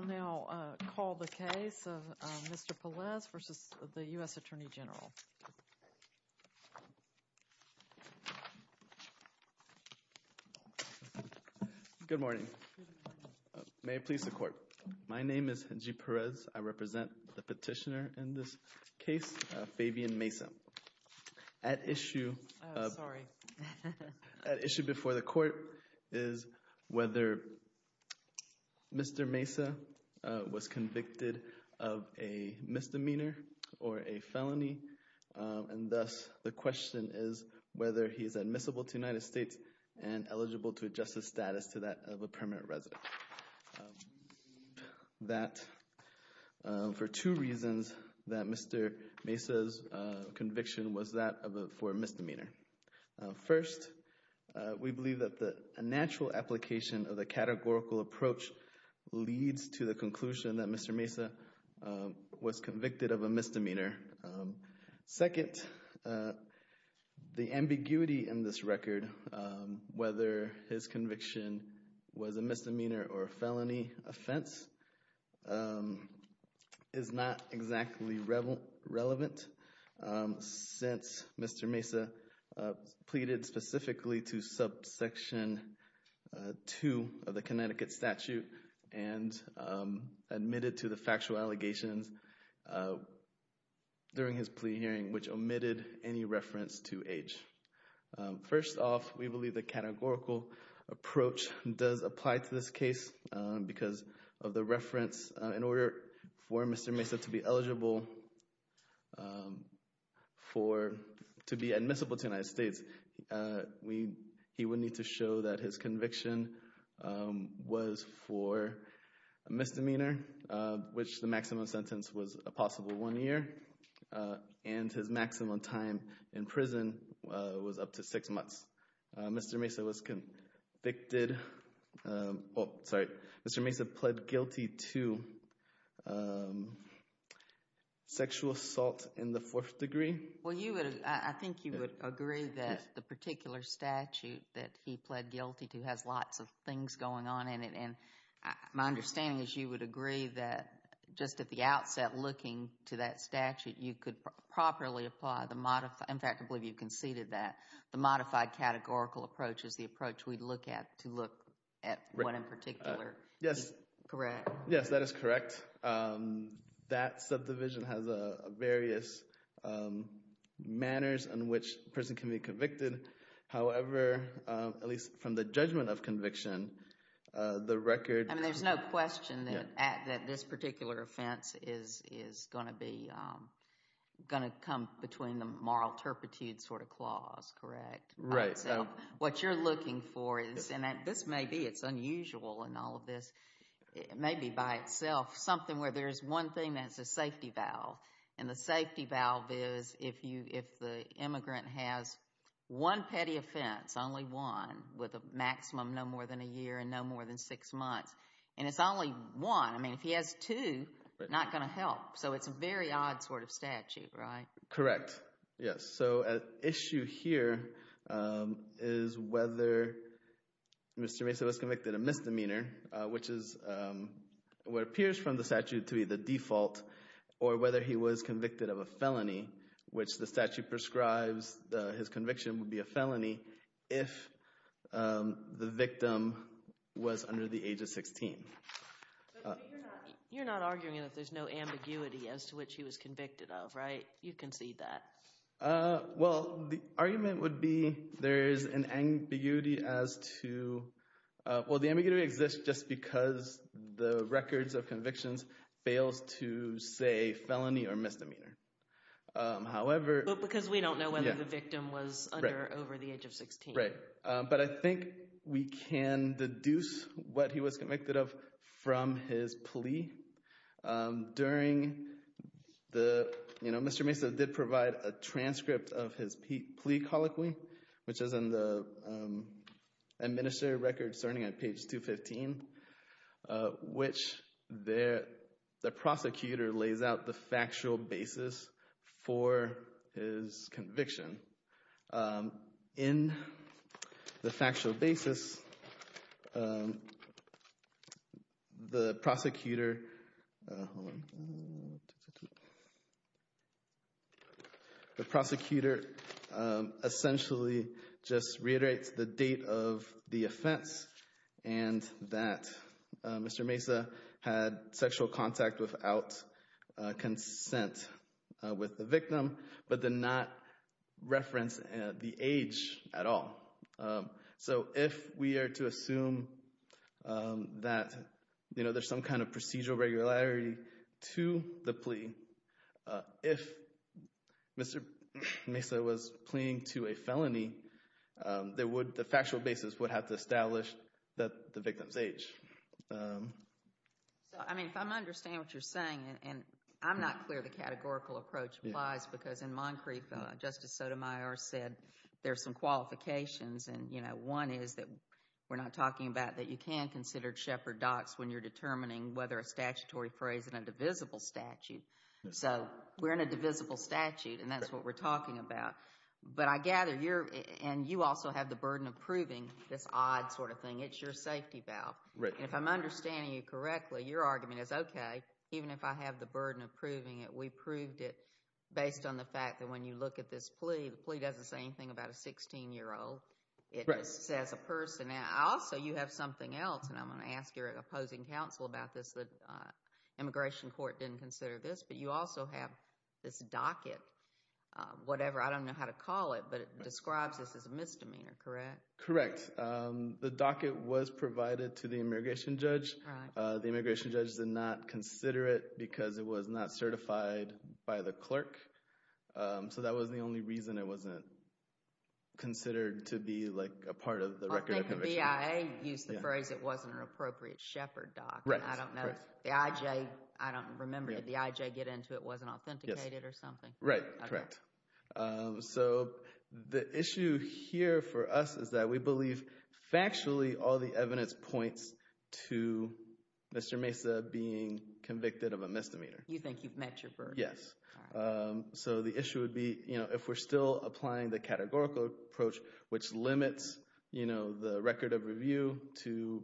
I will now call the case of Mr. Pelaez v. U.S. Attorney General. Good morning. May it please the Court. My name is Hengi Perez. I represent the petitioner in this case, Fabian Mesa. At issue before the Court is whether Mr. Mesa was convicted of a misdemeanor or a felony. And thus the question is whether he is admissible to the United States and eligible to adjust his status to that of a permanent resident. We believe that for two reasons that Mr. Mesa's conviction was that for a misdemeanor. First, we believe that the natural application of the categorical approach leads to the conclusion that Mr. Mesa was convicted of a misdemeanor. Second, the ambiguity in this record, whether his conviction was a misdemeanor or a felony offense, is not exactly relevant. Since Mr. Mesa pleaded specifically to subsection 2 of the Connecticut statute and admitted to the factual allegations during his plea hearing, which omitted any reference to age. For, to be admissible to the United States, he would need to show that his conviction was for a misdemeanor, which the maximum sentence was a possible one year, and his maximum time in prison was up to six months. Mr. Mesa pleaded guilty to sexual assault in the fourth degree. Well, I think you would agree that the particular statute that he pleaded guilty to has lots of things going on in it. And my understanding is you would agree that just at the outset looking to that statute, you could properly apply the modified, in fact, I believe you conceded that, the modified categorical approach is the approach we'd look at to look at what in particular is correct. Yes, that is correct. That subdivision has various manners in which a person can be convicted. However, at least from the judgment of conviction, the record- And there's no question that this particular offense is going to come between the moral turpitude sort of clause, correct? Right. So what you're looking for is, and this may be, it's unusual in all of this, it may be by itself, something where there's one thing that's a safety valve. And the safety valve is if the immigrant has one petty offense, only one, with a maximum no more than a year and no more than six months, and it's only one. I mean, if he has two, not going to help. So it's a very odd sort of statute, right? Correct. Yes. So an issue here is whether Mr. Mesa was convicted of misdemeanor, which is what appears from the statute to be the default, or whether he was convicted of a felony, which the statute prescribes his conviction would be a felony, if the victim was under the age of 16. You're not arguing that there's no ambiguity as to what he was convicted of, right? You concede that. Well, the argument would be there's an ambiguity as to, well, the ambiguity exists just because the records of convictions fails to say felony or misdemeanor. However- Because we don't know whether the victim was under or over the age of 16. Right. But I think we can deduce what he was convicted of from his plea. Mr. Mesa did provide a transcript of his plea colloquy, which is in the administrative records starting at page 215, which the prosecutor lays out the factual basis for his conviction. In the factual basis, the prosecutor essentially just reiterates the date of the offense and that Mr. Mesa had sexual contact without consent with the victim, but did not reference the age at all. So if we are to assume that there's some kind of procedural regularity to the plea, if Mr. Mesa was pleading to a felony, the factual basis would have to establish the victim's age. So, I mean, if I'm going to understand what you're saying, and I'm not clear the categorical approach applies because in Moncrief, Justice Sotomayor said there's some qualifications. And, you know, one is that we're not talking about that you can consider shepherd docs when you're determining whether a statutory phrase in a divisible statute. So we're in a divisible statute, and that's what we're talking about. But I gather you're, and you also have the burden of proving this odd sort of thing. It's your safety valve. If I'm understanding you correctly, your argument is, okay, even if I have the burden of proving it, we proved it based on the fact that when you look at this plea, the plea doesn't say anything about a 16-year-old. It just says a person. Also, you have something else, and I'm going to ask your opposing counsel about this. The immigration court didn't consider this, but you also have this docket, whatever. I don't know how to call it, but it describes this as a misdemeanor, correct? Correct. The docket was provided to the immigration judge. The immigration judge did not consider it because it was not certified by the clerk. So that was the only reason it wasn't considered to be, like, a part of the record of conviction. I think the BIA used the phrase it wasn't an appropriate shepherd doc. I don't know. The IJ, I don't remember. Did the IJ get into it wasn't authenticated or something? Right, correct. So the issue here for us is that we believe factually all the evidence points to Mr. Mesa being convicted of a misdemeanor. You think you've met your burden. Yes. So the issue would be, you know, if we're still applying the categorical approach, which limits, you know, the record of review to,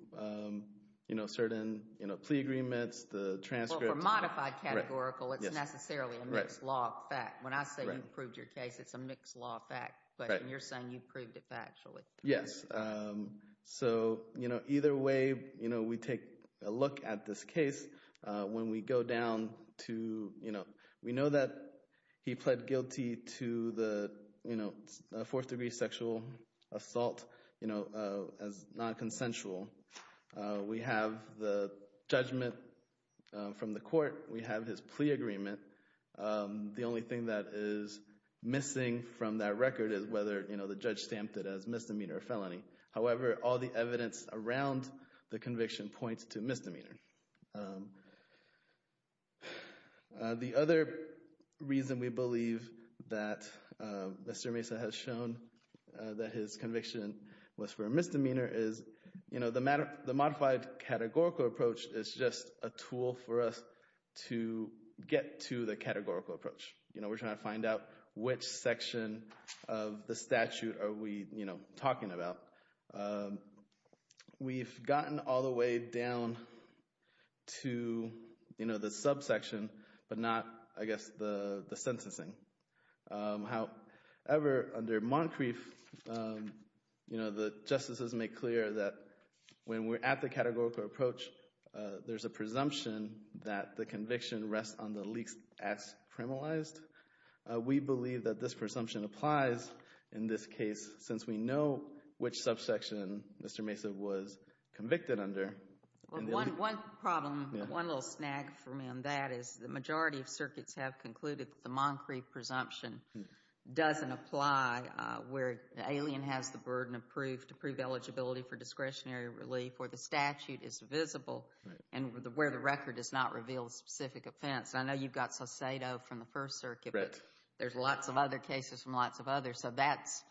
you know, certain, you know, plea agreements, the transcript. If we're modified categorical, it's necessarily a mixed law fact. When I say you've proved your case, it's a mixed law fact. But you're saying you've proved it factually. Yes. So, you know, either way, you know, we take a look at this case. When we go down to, you know, we know that he pled guilty to the, you know, fourth degree sexual assault, you know, as non-consensual. We have the judgment from the court. We have his plea agreement. The only thing that is missing from that record is whether, you know, the judge stamped it as misdemeanor or felony. However, all the evidence around the conviction points to misdemeanor. The other reason we believe that Mr. Mesa has shown that his conviction was for misdemeanor is, you know, the modified categorical approach is just a tool for us to get to the categorical approach. You know, we're trying to find out which section of the statute are we, you know, talking about. We've gotten all the way down to, you know, the subsection, but not, I guess, the sentencing. However, under Moncrief, you know, the justices make clear that when we're at the categorical approach, there's a presumption that the conviction rests on the least as criminalized. We believe that this presumption applies in this case since we know which subsection Mr. Mesa was convicted under. One problem, one little snag for me on that is the majority of circuits have concluded that the Moncrief presumption doesn't apply where the alien has the burden of proof to prove eligibility for discretionary relief, where the statute is visible, and where the record does not reveal the specific offense. I know you've got Sacedo from the First Circuit, but there's lots of other cases from lots of others, so that's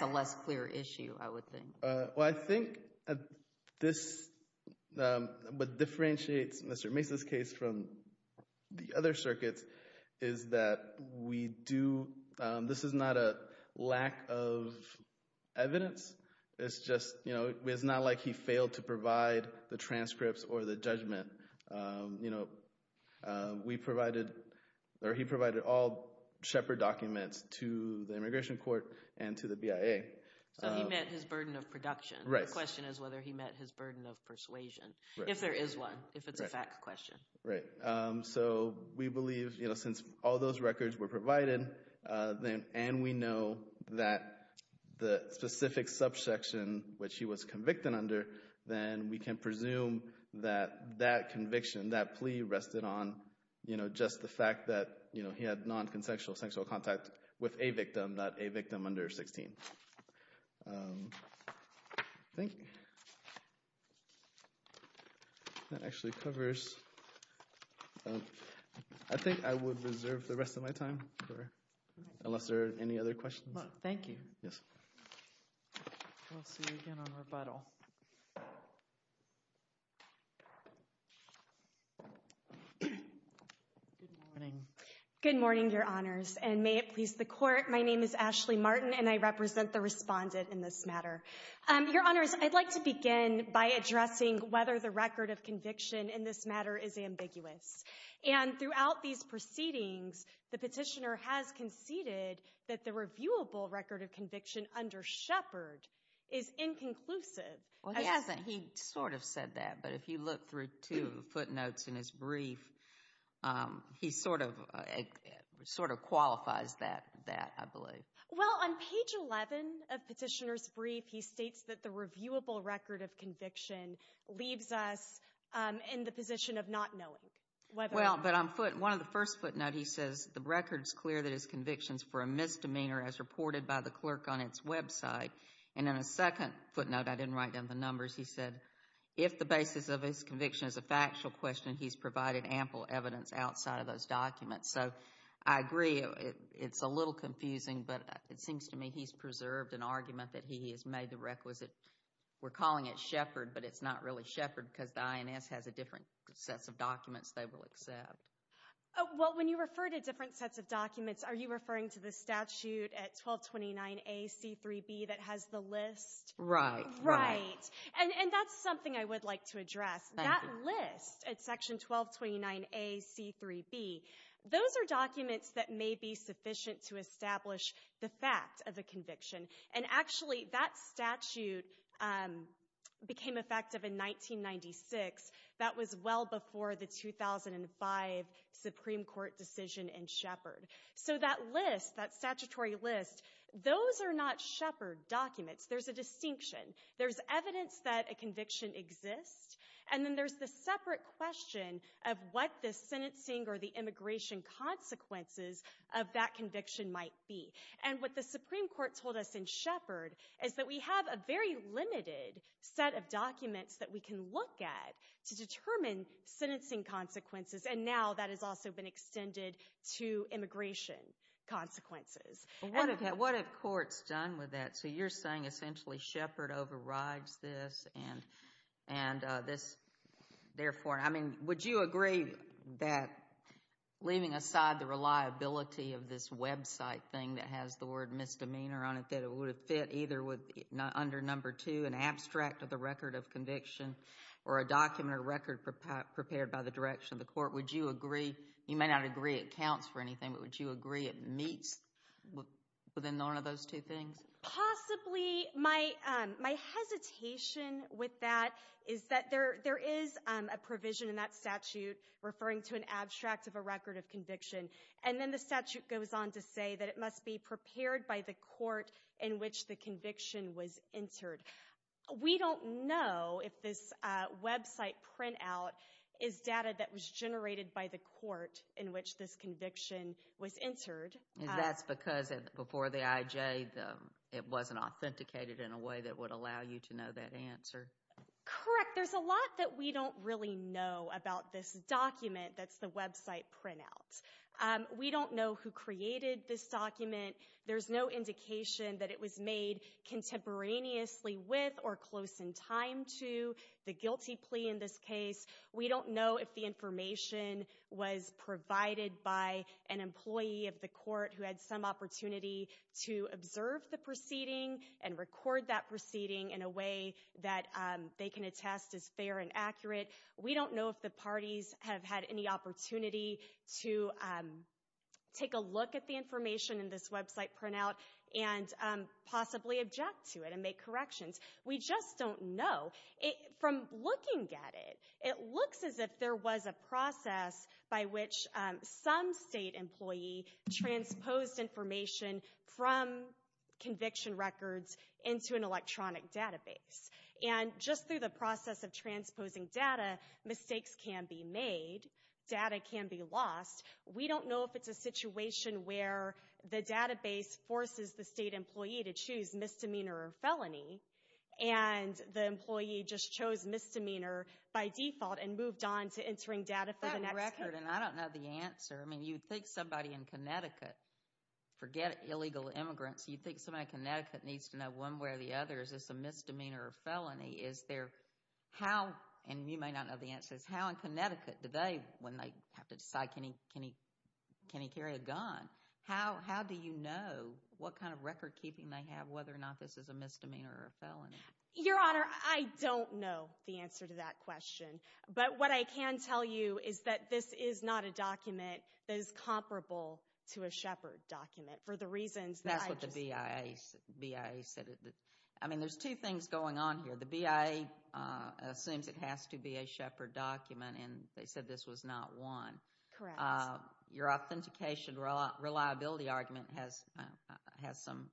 a less clear issue, I would think. Well, I think this, what differentiates Mr. Mesa's case from the other circuits is that we do, this is not a lack of evidence. It's just, you know, it's not like he failed to provide the transcripts or the judgment. You know, we provided, or he provided all Shepard documents to the Immigration Court and to the BIA. So he met his burden of production. Right. The question is whether he met his burden of persuasion, if there is one, if it's a fact question. Right. So we believe, you know, since all those records were provided, and we know that the specific subsection which he was convicted under, then we can presume that that conviction, that plea rested on, you know, just the fact that, you know, he had non-consensual sexual contact with a victim, not a victim under 16. Thank you. That actually covers, I think I would reserve the rest of my time for, unless there are any other questions. Thank you. Yes. We'll see you again on rebuttal. Good morning. Good morning, Your Honors, and may it please the Court. My name is Ashley Martin, and I represent the respondent in this matter. Your Honors, I'd like to begin by addressing whether the record of conviction in this matter is ambiguous. And throughout these proceedings, the petitioner has conceded that the reviewable record of conviction under Shepard is inconclusive. Well, he hasn't. He sort of said that. But if you look through two footnotes in his brief, he sort of qualifies that, I believe. Well, on page 11 of the petitioner's brief, he states that the reviewable record of conviction leaves us in the position of not knowing. Well, but on one of the first footnotes, he says the record is clear that his conviction is for a misdemeanor as reported by the clerk on its website. And in a second footnote, I didn't write down the numbers, he said if the basis of his conviction is a factual question, he's provided ample evidence outside of those documents. So I agree it's a little confusing, but it seems to me he's preserved an argument that he has made the requisite. We're calling it Shepard, but it's not really Shepard because the INS has a different set of documents they will accept. Well, when you refer to different sets of documents, are you referring to the statute at 1229A.C.3.B. that has the list? Right. Right. And that's something I would like to address. That list at section 1229A.C.3.B., those are documents that may be sufficient to establish the fact of a conviction. And actually, that statute became effective in 1996. That was well before the 2005 Supreme Court decision in Shepard. So that list, that statutory list, those are not Shepard documents. There's a distinction. There's evidence that a conviction exists. And then there's the separate question of what the sentencing or the immigration consequences of that conviction might be. And what the Supreme Court told us in Shepard is that we have a very limited set of documents that we can look at to determine sentencing consequences. And now that has also been extended to immigration consequences. What have courts done with that? So you're saying essentially Shepard overrides this and this, therefore, I mean, would you agree that, leaving aside the reliability of this website thing that has the word misdemeanor on it, that it would have fit either under number two, an abstract of the record of conviction, or a document or record prepared by the direction of the court, would you agree, you may not agree it counts for anything, but would you agree it meets within one of those two things? Possibly. My hesitation with that is that there is a provision in that statute referring to an abstract of a record of conviction. And then the statute goes on to say that it must be prepared by the court in which the conviction was entered. We don't know if this website printout is data that was generated by the court in which this conviction was entered. That's because before the IJ, it wasn't authenticated in a way that would allow you to know that answer. Correct. There's a lot that we don't really know about this document that's the website printout. We don't know who created this document. There's no indication that it was made contemporaneously with or close in time to the guilty plea in this case. We don't know if the information was provided by an employee of the court who had some opportunity to observe the proceeding and record that proceeding in a way that they can attest is fair and accurate. We don't know if the parties have had any opportunity to take a look at the information in this website printout and possibly object to it and make corrections. We just don't know. From looking at it, it looks as if there was a process by which some state employee transposed information from conviction records into an electronic database. And just through the process of transposing data, mistakes can be made. Data can be lost. We don't know if it's a situation where the database forces the state employee to choose misdemeanor or felony and the employee just chose misdemeanor by default and moved on to entering data for the next case. I don't know the answer. I mean, you'd think somebody in Connecticut, forget illegal immigrants, you'd think somebody in Connecticut needs to know one way or the other is this a misdemeanor or felony. Is there how, and you may not know the answer, is how in Connecticut do they, when they have to decide can he carry a gun, how do you know what kind of record keeping they have whether or not this is a misdemeanor or a felony? Your Honor, I don't know the answer to that question. But what I can tell you is that this is not a document that is comparable to a Shepard document for the reasons that I just said. That's what the BIA said. I mean, there's two things going on here. The BIA assumes it has to be a Shepard document, and they said this was not one. Correct. Your authentication reliability argument has some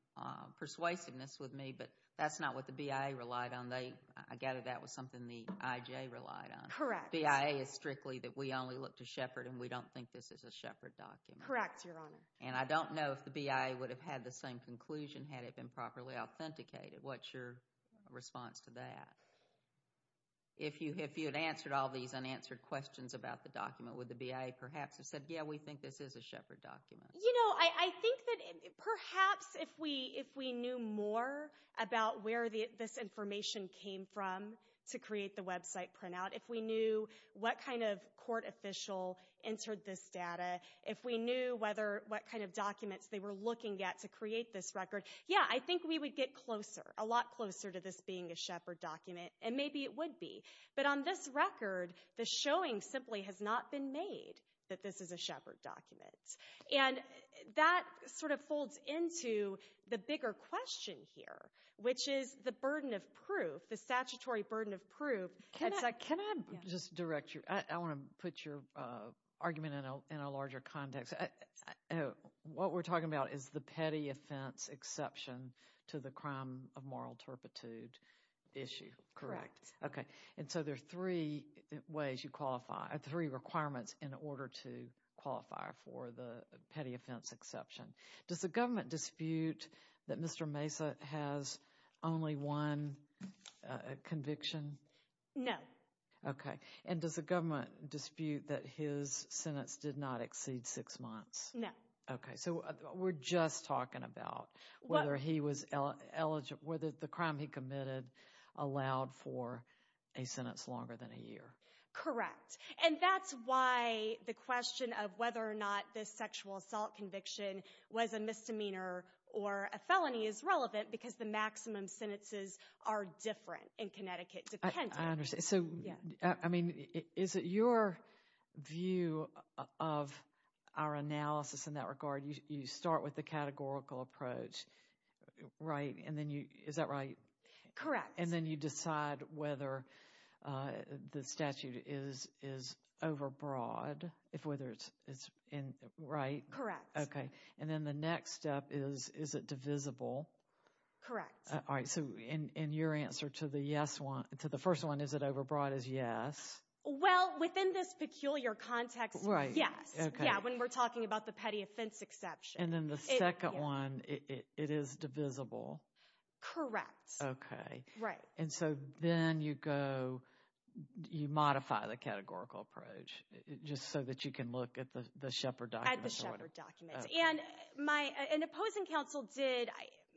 persuasiveness with me, but that's not what the BIA relied on. I gather that was something the IJA relied on. Correct. BIA is strictly that we only look to Shepard and we don't think this is a Shepard document. Correct, Your Honor. And I don't know if the BIA would have had the same conclusion had it been properly authenticated. What's your response to that? If you had answered all these unanswered questions about the document, would the BIA perhaps have said, yeah, we think this is a Shepard document? You know, I think that perhaps if we knew more about where this information came from to create the website printout, if we knew what kind of court official entered this data, if we knew what kind of documents they were looking at to create this record, yeah, I think we would get closer, a lot closer to this being a Shepard document, and maybe it would be. But on this record, the showing simply has not been made that this is a Shepard document. And that sort of folds into the bigger question here, which is the burden of proof, the statutory burden of proof. Can I just direct you? I want to put your argument in a larger context. What we're talking about is the petty offense exception to the crime of moral turpitude issue. Correct. Okay. And so there are three ways you qualify, three requirements in order to qualify for the petty offense exception. Does the government dispute that Mr. Mesa has only one conviction? No. Okay. And does the government dispute that his sentence did not exceed six months? No. Okay. So we're just talking about whether he was eligible, whether the crime he committed allowed for a sentence longer than a year. Correct. And that's why the question of whether or not this sexual assault conviction was a misdemeanor or a felony is relevant, because the maximum sentences are different in Connecticut depending. I understand. So, I mean, is it your view of our analysis in that regard? You start with the categorical approach, right? And then you, is that right? Correct. And then you decide whether the statute is overbroad, whether it's right? Correct. Okay. And then the next step is, is it divisible? Correct. All right. So in your answer to the first one, is it overbroad, is yes. Well, within this peculiar context, yes. Yeah, when we're talking about the petty offense exception. And then the second one, it is divisible? Correct. Okay. Right. And so then you go, you modify the categorical approach just so that you can look at the Shepard documents? At the Shepard documents. Okay. An opposing counsel did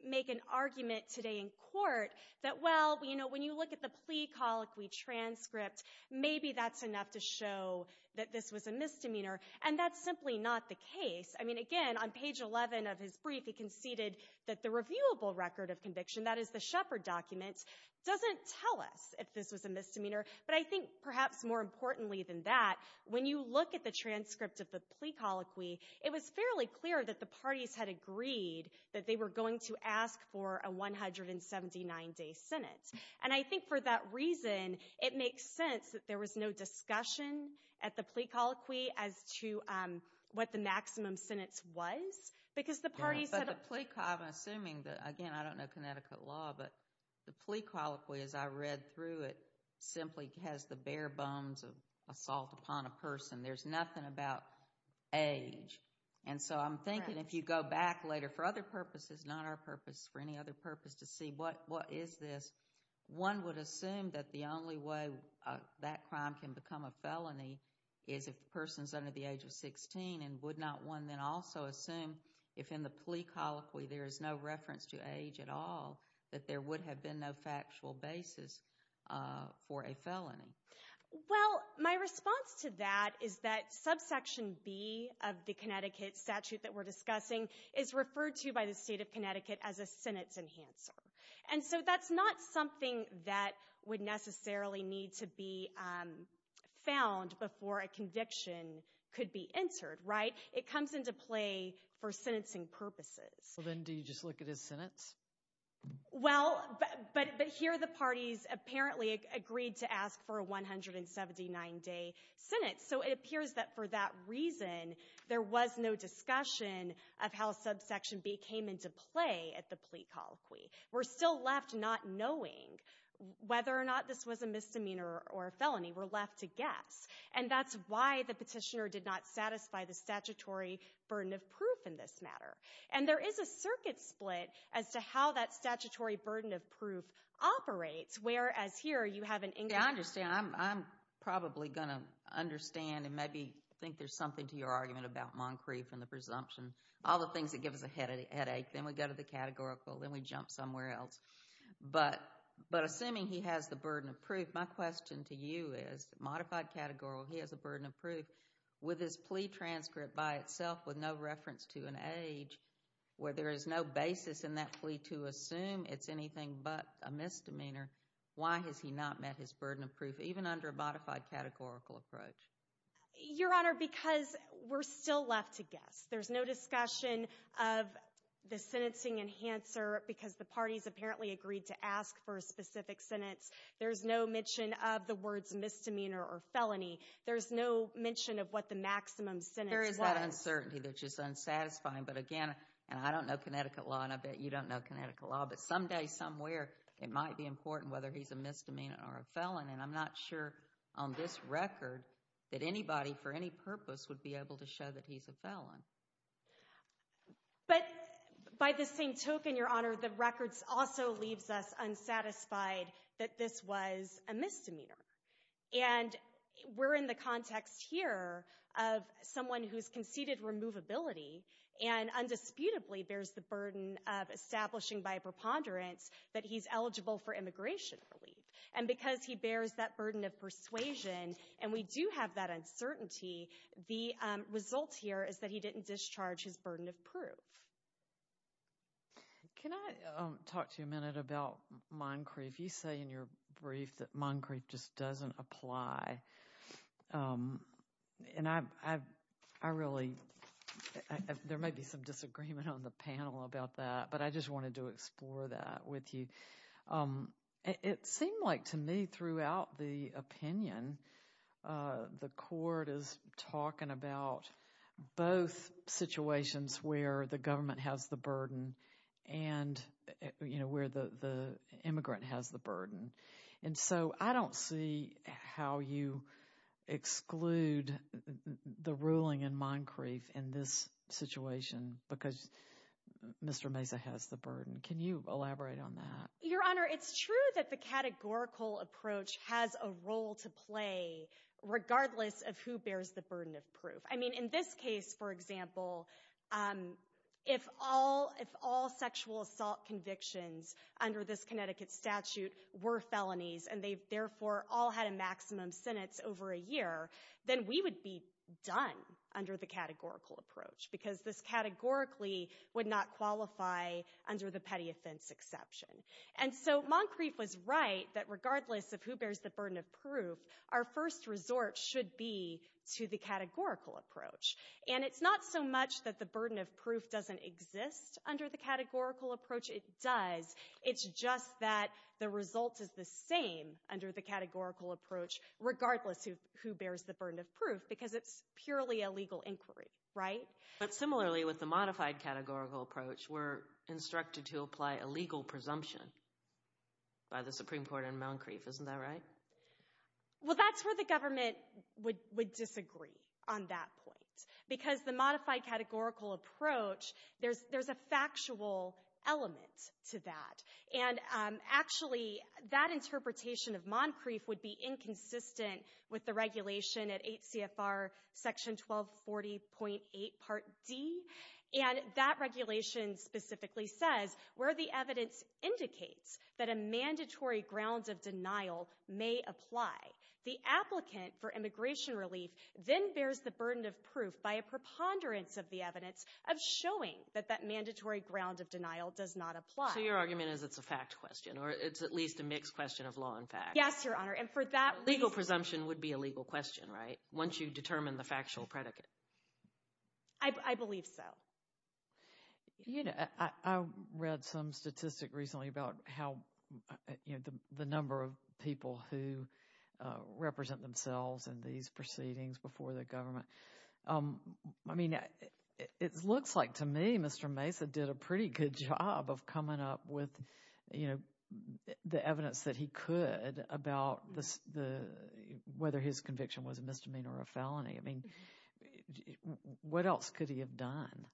make an argument today in court that, well, you know, when you look at the plea colloquy transcript, maybe that's enough to show that this was a misdemeanor. And that's simply not the case. I mean, again, on page 11 of his brief, he conceded that the reviewable record of conviction, that is the Shepard documents, doesn't tell us if this was a misdemeanor. But I think perhaps more importantly than that, when you look at the transcript of the plea colloquy, it was fairly clear that the parties had agreed that they were going to ask for a 179-day sentence. And I think for that reason, it makes sense that there was no discussion at the plea colloquy as to what the maximum sentence was. Because the parties had a – But the plea – I'm assuming that, again, I don't know Connecticut law, but the plea colloquy, as I read through it, simply has the bare bones of assault upon a person. There's nothing about age. And so I'm thinking if you go back later for other purposes, not our purpose, for any other purpose, to see what is this, one would assume that the only way that crime can become a felony is if the person is under the age of 16 and would not one then also assume if in the plea colloquy there is no reference to age at all that there would have been no factual basis for a felony. Well, my response to that is that subsection B of the Connecticut statute that we're discussing is referred to by the state of Connecticut as a sentence enhancer. And so that's not something that would necessarily need to be found before a conviction could be entered, right? It comes into play for sentencing purposes. Well, then do you just look at his sentence? Well, but here the parties apparently agreed to ask for a 179-day sentence. So it appears that for that reason there was no discussion of how subsection B came into play at the plea colloquy. We're still left not knowing whether or not this was a misdemeanor or a felony. We're left to guess. And that's why the petitioner did not satisfy the statutory burden of proof in this matter. And there is a circuit split as to how that statutory burden of proof operates, whereas here you have an income. Yeah, I understand. I'm probably going to understand and maybe think there's something to your argument about Moncrief and the presumption, all the things that give us a headache. Then we go to the categorical. Then we jump somewhere else. But assuming he has the burden of proof, my question to you is, modified categorical, he has a burden of proof. With his plea transcript by itself with no reference to an age where there is no basis in that plea to assume it's anything but a misdemeanor, why has he not met his burden of proof, even under a modified categorical approach? Your Honor, because we're still left to guess. There's no discussion of the sentencing enhancer because the parties apparently agreed to ask for a specific sentence. There's no mention of the words misdemeanor or felony. There's no mention of what the maximum sentence was. There is that uncertainty that's just unsatisfying. But again, and I don't know Connecticut law, and I bet you don't know Connecticut law, but someday, somewhere, it might be important whether he's a misdemeanor or a felon. And I'm not sure on this record that anybody for any purpose would be able to show that he's a felon. But by the same token, Your Honor, the record also leaves us unsatisfied that this was a misdemeanor. And we're in the context here of someone who's conceded removability and undisputably bears the burden of establishing by a preponderance that he's eligible for immigration relief. And because he bears that burden of persuasion and we do have that uncertainty, the result here is that he didn't discharge his burden of proof. Can I talk to you a minute about Moncrief? You say in your brief that Moncrief just doesn't apply. And I really—there may be some disagreement on the panel about that, but I just wanted to explore that with you. It seemed like to me throughout the opinion, the court is talking about both situations where the government has the burden and, you know, where the immigrant has the burden. And so I don't see how you exclude the ruling in Moncrief in this situation because Mr. Mesa has the burden. Can you elaborate on that? Your Honor, it's true that the categorical approach has a role to play regardless of who bears the burden of proof. I mean, in this case, for example, if all sexual assault convictions under this Connecticut statute were felonies and they therefore all had a maximum sentence over a year, then we would be done under the categorical approach because this categorically would not qualify under the petty offense exception. And so Moncrief was right that regardless of who bears the burden of proof, our first resort should be to the categorical approach. And it's not so much that the burden of proof doesn't exist under the categorical approach. It does. It's just that the result is the same under the categorical approach regardless of who bears the burden of proof because it's purely a legal inquiry, right? But similarly, with the modified categorical approach, we're instructed to apply a legal presumption by the Supreme Court in Moncrief. Isn't that right? Well, that's where the government would disagree on that point because the modified categorical approach, there's a factual element to that. And actually, that interpretation of Moncrief would be inconsistent with the regulation at 8 CFR section 1240.8 part D. And that regulation specifically says where the evidence indicates that a mandatory grounds of denial may apply, the applicant for immigration relief then bears the burden of proof by a preponderance of the evidence of showing that that mandatory grounds of denial does not apply. So your argument is it's a fact question or it's at least a mixed question of law and fact? Yes, Your Honor. And for that reason— Legal presumption would be a legal question, right, once you determine the factual predicate? I believe so. You know, I read some statistic recently about how, you know, the number of people who represent themselves in these proceedings before the government. I mean, it looks like to me Mr. Mesa did a pretty good job of coming up with, you know, the evidence that he could about whether his conviction was a misdemeanor or a felony. I mean, what else could he have done?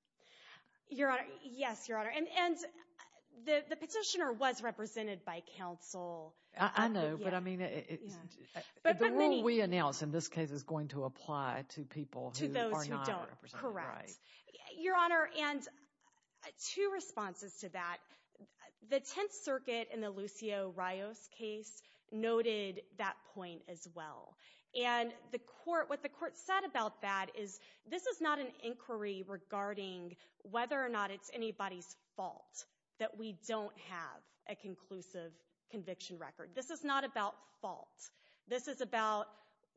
Your Honor, yes, Your Honor. And the petitioner was represented by counsel. I know, but I mean, the rule we announced in this case is going to apply to people who are not represented. Correct. Your Honor, and two responses to that. The Tenth Circuit in the Lucio Rios case noted that point as well. And what the court said about that is this is not an inquiry regarding whether or not it's anybody's fault that we don't have a conclusive conviction record. This is not about fault. This is about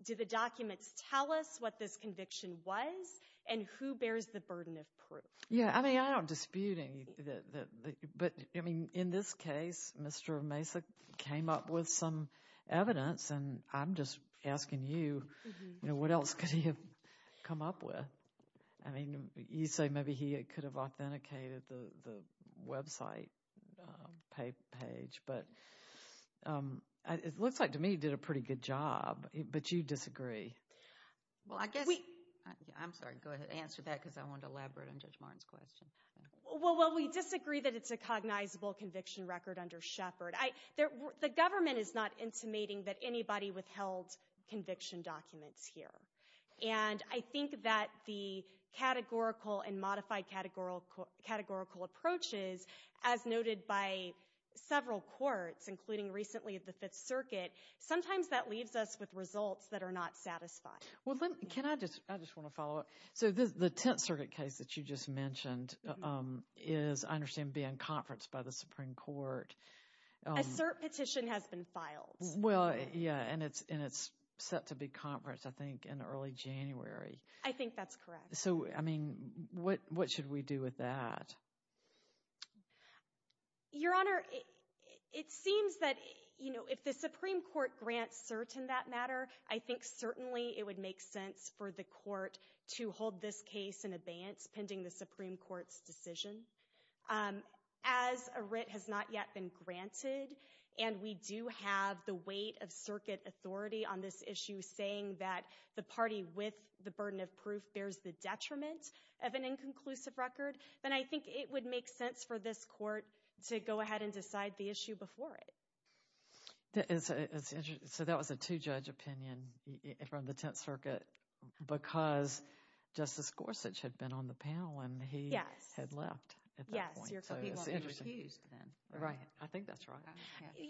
do the documents tell us what this conviction was and who bears the burden of proof. Yeah, I mean, I don't dispute any— But, I mean, in this case, Mr. Mesa came up with some evidence, and I'm just asking you, you know, what else could he have come up with? I mean, you say maybe he could have authenticated the website page, but it looks like to me he did a pretty good job. But you disagree. Well, I guess—I'm sorry. Go ahead. Answer that because I want to elaborate on Judge Martin's question. Well, we disagree that it's a cognizable conviction record under Shepard. The government is not intimating that anybody withheld conviction documents here. And I think that the categorical and modified categorical approaches, as noted by several courts, including recently the Fifth Circuit, sometimes that leaves us with results that are not satisfying. Well, can I just—I just want to follow up. So the Tenth Circuit case that you just mentioned is, I understand, being conferenced by the Supreme Court. A cert petition has been filed. Well, yeah, and it's set to be conferenced, I think, in early January. I think that's correct. So, I mean, what should we do with that? Your Honor, it seems that, you know, if the Supreme Court grants cert in that matter, I think certainly it would make sense for the court to hold this case in abeyance pending the Supreme Court's decision. As a writ has not yet been granted and we do have the weight of Circuit authority on this issue saying that the party with the burden of proof bears the detriment of an inconclusive record, then I think it would make sense for this court to go ahead and decide the issue before it. So that was a two-judge opinion from the Tenth Circuit because Justice Gorsuch had been on the panel and he had left at that point. Yes, he was excused then. Right, I think that's right.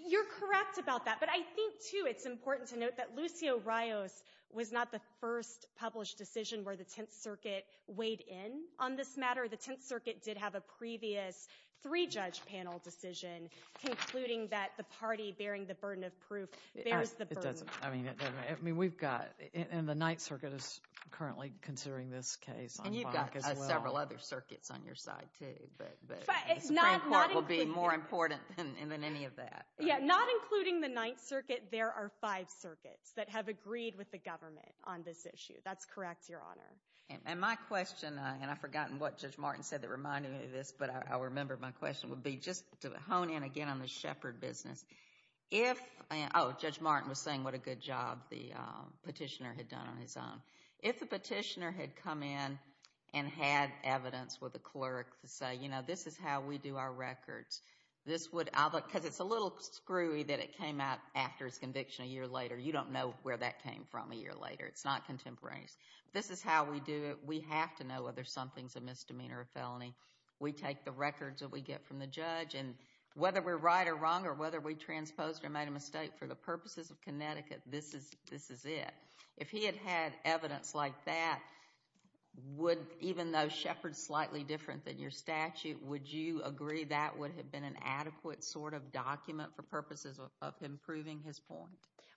You're correct about that, but I think, too, it's important to note that Lucio Rios was not the first published decision where the Tenth Circuit weighed in on this matter. The Tenth Circuit did have a previous three-judge panel decision concluding that the party bearing the burden of proof bears the burden. It doesn't, I mean, we've got, and the Ninth Circuit is currently considering this case. And you've got several other circuits on your side, too, but the Supreme Court will be more important than any of that. Yeah, not including the Ninth Circuit, there are five circuits that have agreed with the government on this issue. That's correct, Your Honor. And my question, and I've forgotten what Judge Martin said that reminded me of this, but I remember my question would be just to hone in again on the Shepard business. If, oh, Judge Martin was saying what a good job the petitioner had done on his own. If the petitioner had come in and had evidence with the clerk to say, you know, this is how we do our records, this would, because it's a little screwy that it came out after his conviction a year later. You don't know where that came from a year later. It's not contemporaneous. This is how we do it. We have to know whether something's a misdemeanor or a felony. We take the records that we get from the judge, and whether we're right or wrong or whether we transposed or made a mistake for the purposes of Connecticut, this is it. If he had had evidence like that, would, even though Shepard's slightly different than your statute, would you agree that would have been an adequate sort of document for purposes of improving his point?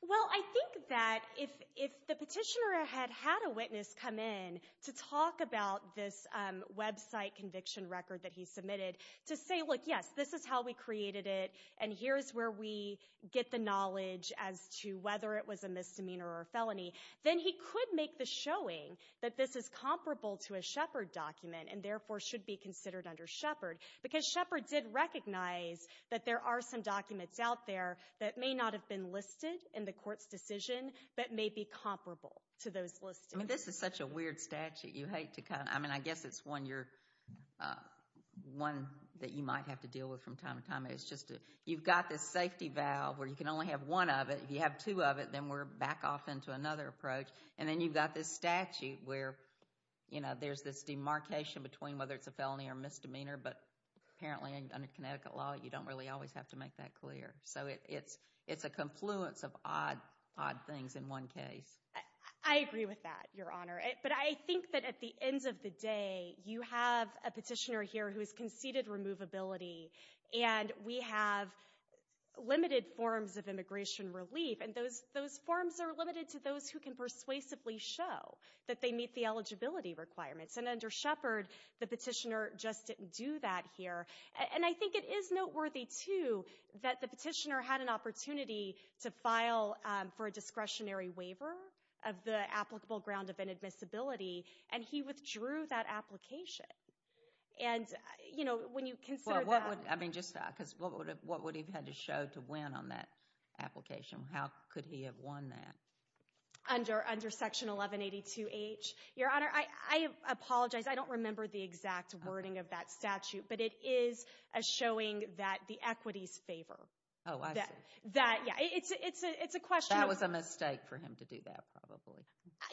Well, I think that if the petitioner had had a witness come in to talk about this website conviction record that he submitted, to say, look, yes, this is how we created it, and here's where we get the knowledge as to whether it was a misdemeanor or a felony, then he could make the showing that this is comparable to a Shepard document and therefore should be considered under Shepard, because Shepard did recognize that there are some documents out there that may not have been listed in the court's decision that may be comparable to those listed. I mean, this is such a weird statute. I mean, I guess it's one that you might have to deal with from time to time. You've got this safety valve where you can only have one of it. If you have two of it, then we're back off into another approach. And then you've got this statute where there's this demarcation between whether it's a felony or misdemeanor, but apparently under Connecticut law, you don't really always have to make that clear. So it's a confluence of odd things in one case. I agree with that, Your Honor. But I think that at the end of the day, you have a petitioner here who has conceded removability, and we have limited forms of immigration relief, and those forms are limited to those who can persuasively show that they meet the eligibility requirements. And under Shepard, the petitioner just didn't do that here. And I think it is noteworthy, too, that the petitioner had an opportunity to file for a discretionary waiver of the applicable ground of inadmissibility, and he withdrew that application. And, you know, when you consider that. I mean, just because what would he have had to show to win on that application? How could he have won that? Under Section 1182H. Your Honor, I apologize. I don't remember the exact wording of that statute, but it is showing that the equities favor. Oh, I see. That, yeah, it's a question of. That was a mistake for him to do that, probably.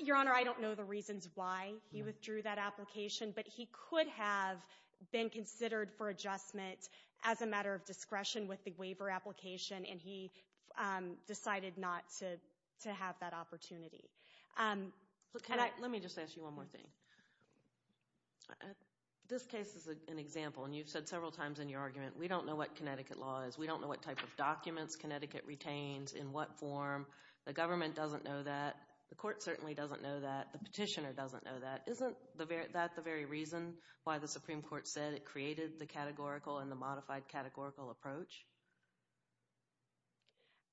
Your Honor, I don't know the reasons why he withdrew that application, but he could have been considered for adjustment as a matter of discretion with the waiver application, and he decided not to have that opportunity. Let me just ask you one more thing. This case is an example, and you've said several times in your argument, we don't know what Connecticut law is. We don't know what type of documents Connecticut retains, in what form. The government doesn't know that. The court certainly doesn't know that. The petitioner doesn't know that. Isn't that the very reason why the Supreme Court said it created the categorical and the modified categorical approach?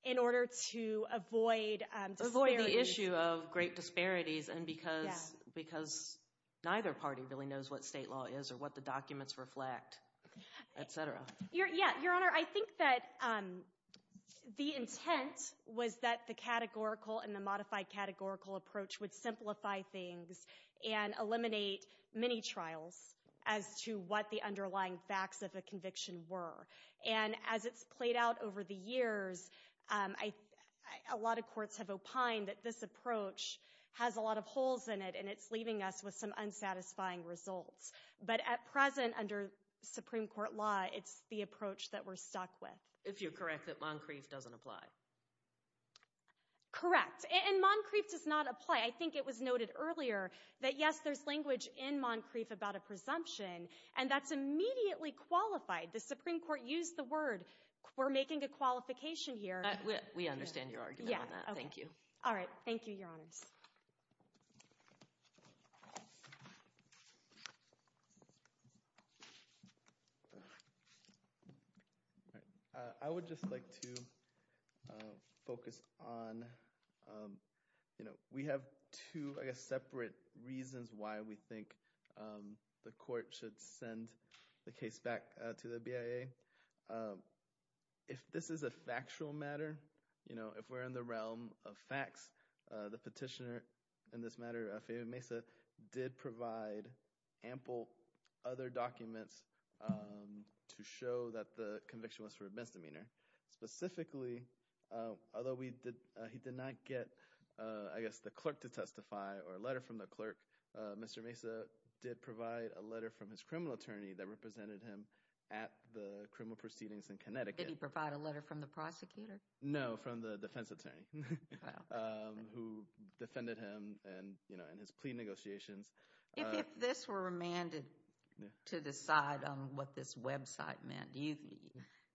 In order to avoid disparities. Avoid the issue of great disparities, and because neither party really knows what state law is or what the documents reflect, et cetera. Yeah. Your Honor, I think that the intent was that the categorical and the modified categorical approach would simplify things and eliminate many trials as to what the underlying facts of a conviction were. And as it's played out over the years, a lot of courts have opined that this approach has a lot of holes in it, and it's leaving us with some unsatisfying results. But at present, under Supreme Court law, it's the approach that we're stuck with. If you're correct that Moncrief doesn't apply. Correct. And Moncrief does not apply. I think it was noted earlier that, yes, there's language in Moncrief about a presumption, and that's immediately qualified. The Supreme Court used the word. We're making a qualification here. We understand your argument on that. Thank you. All right. Thank you, Your Honors. I would just like to focus on, you know, we have two, I guess, separate reasons why we think the court should send the case back to the BIA. If this is a factual matter, you know, if we're in the realm of facts, the petitioner in this matter, Fabian Mesa, did provide ample other documents to show that the conviction was for a misdemeanor. Specifically, although he did not get, I guess, the clerk to testify or a letter from the clerk, Mr. Mesa did provide a letter from his criminal attorney that represented him at the criminal proceedings in Connecticut. Did he provide a letter from the prosecutor? No, from the defense attorney who defended him in his plea negotiations. If this were remanded to decide on what this website meant, do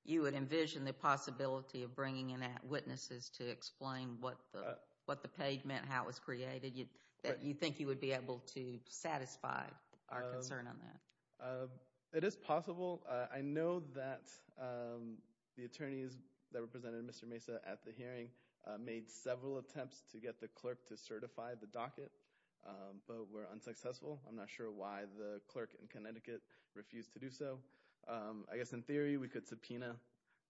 you envision the possibility of bringing in witnesses to explain what the page meant, how it was created? Do you think you would be able to satisfy our concern on that? It is possible. I know that the attorneys that represented Mr. Mesa at the hearing made several attempts to get the clerk to certify the docket, but were unsuccessful. I'm not sure why the clerk in Connecticut refused to do so. I guess, in theory, we could subpoena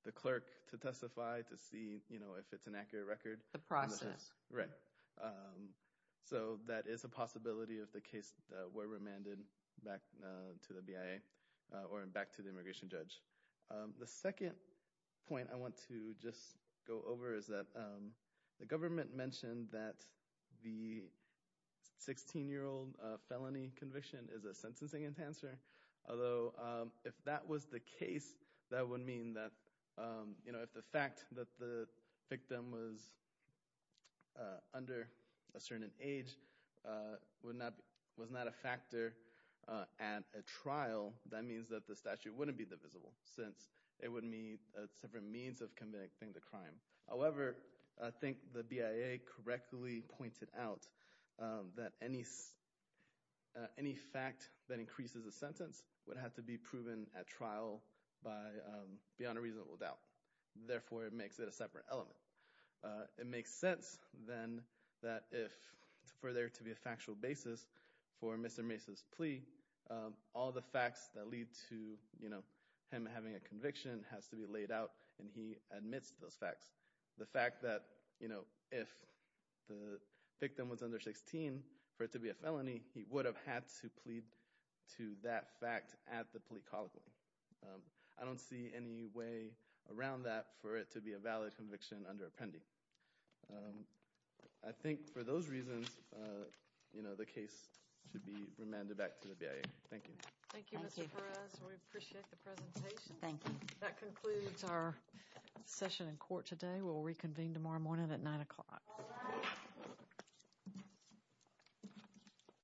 the clerk to testify to see, you know, if it's an accurate record. The process. Right. So that is a possibility if the case were remanded back to the BIA or back to the immigration judge. The second point I want to just go over is that the government mentioned that the 16-year-old felony conviction is a sentencing enhancer. Although, if that was the case, that would mean that, you know, if the fact that the victim was under a certain age was not a factor at a trial, that means that the statute wouldn't be divisible since it would mean a separate means of convicting the crime. However, I think the BIA correctly pointed out that any fact that increases a sentence would have to be proven at trial beyond a reasonable doubt. Therefore, it makes it a separate element. It makes sense, then, that if for there to be a factual basis for Mr. Mace's plea, all the facts that lead to, you know, him having a conviction has to be laid out and he admits those facts. The fact that, you know, if the victim was under 16, for it to be a felony, he would have had to plead to that fact at the plea colloquy. I don't see any way around that for it to be a valid conviction under appending. I think for those reasons, you know, the case should be remanded back to the BIA. Thank you. Thank you, Mr. Perez. We appreciate the presentation. Thank you. That concludes our session in court today. We'll reconvene tomorrow morning at 9 o'clock.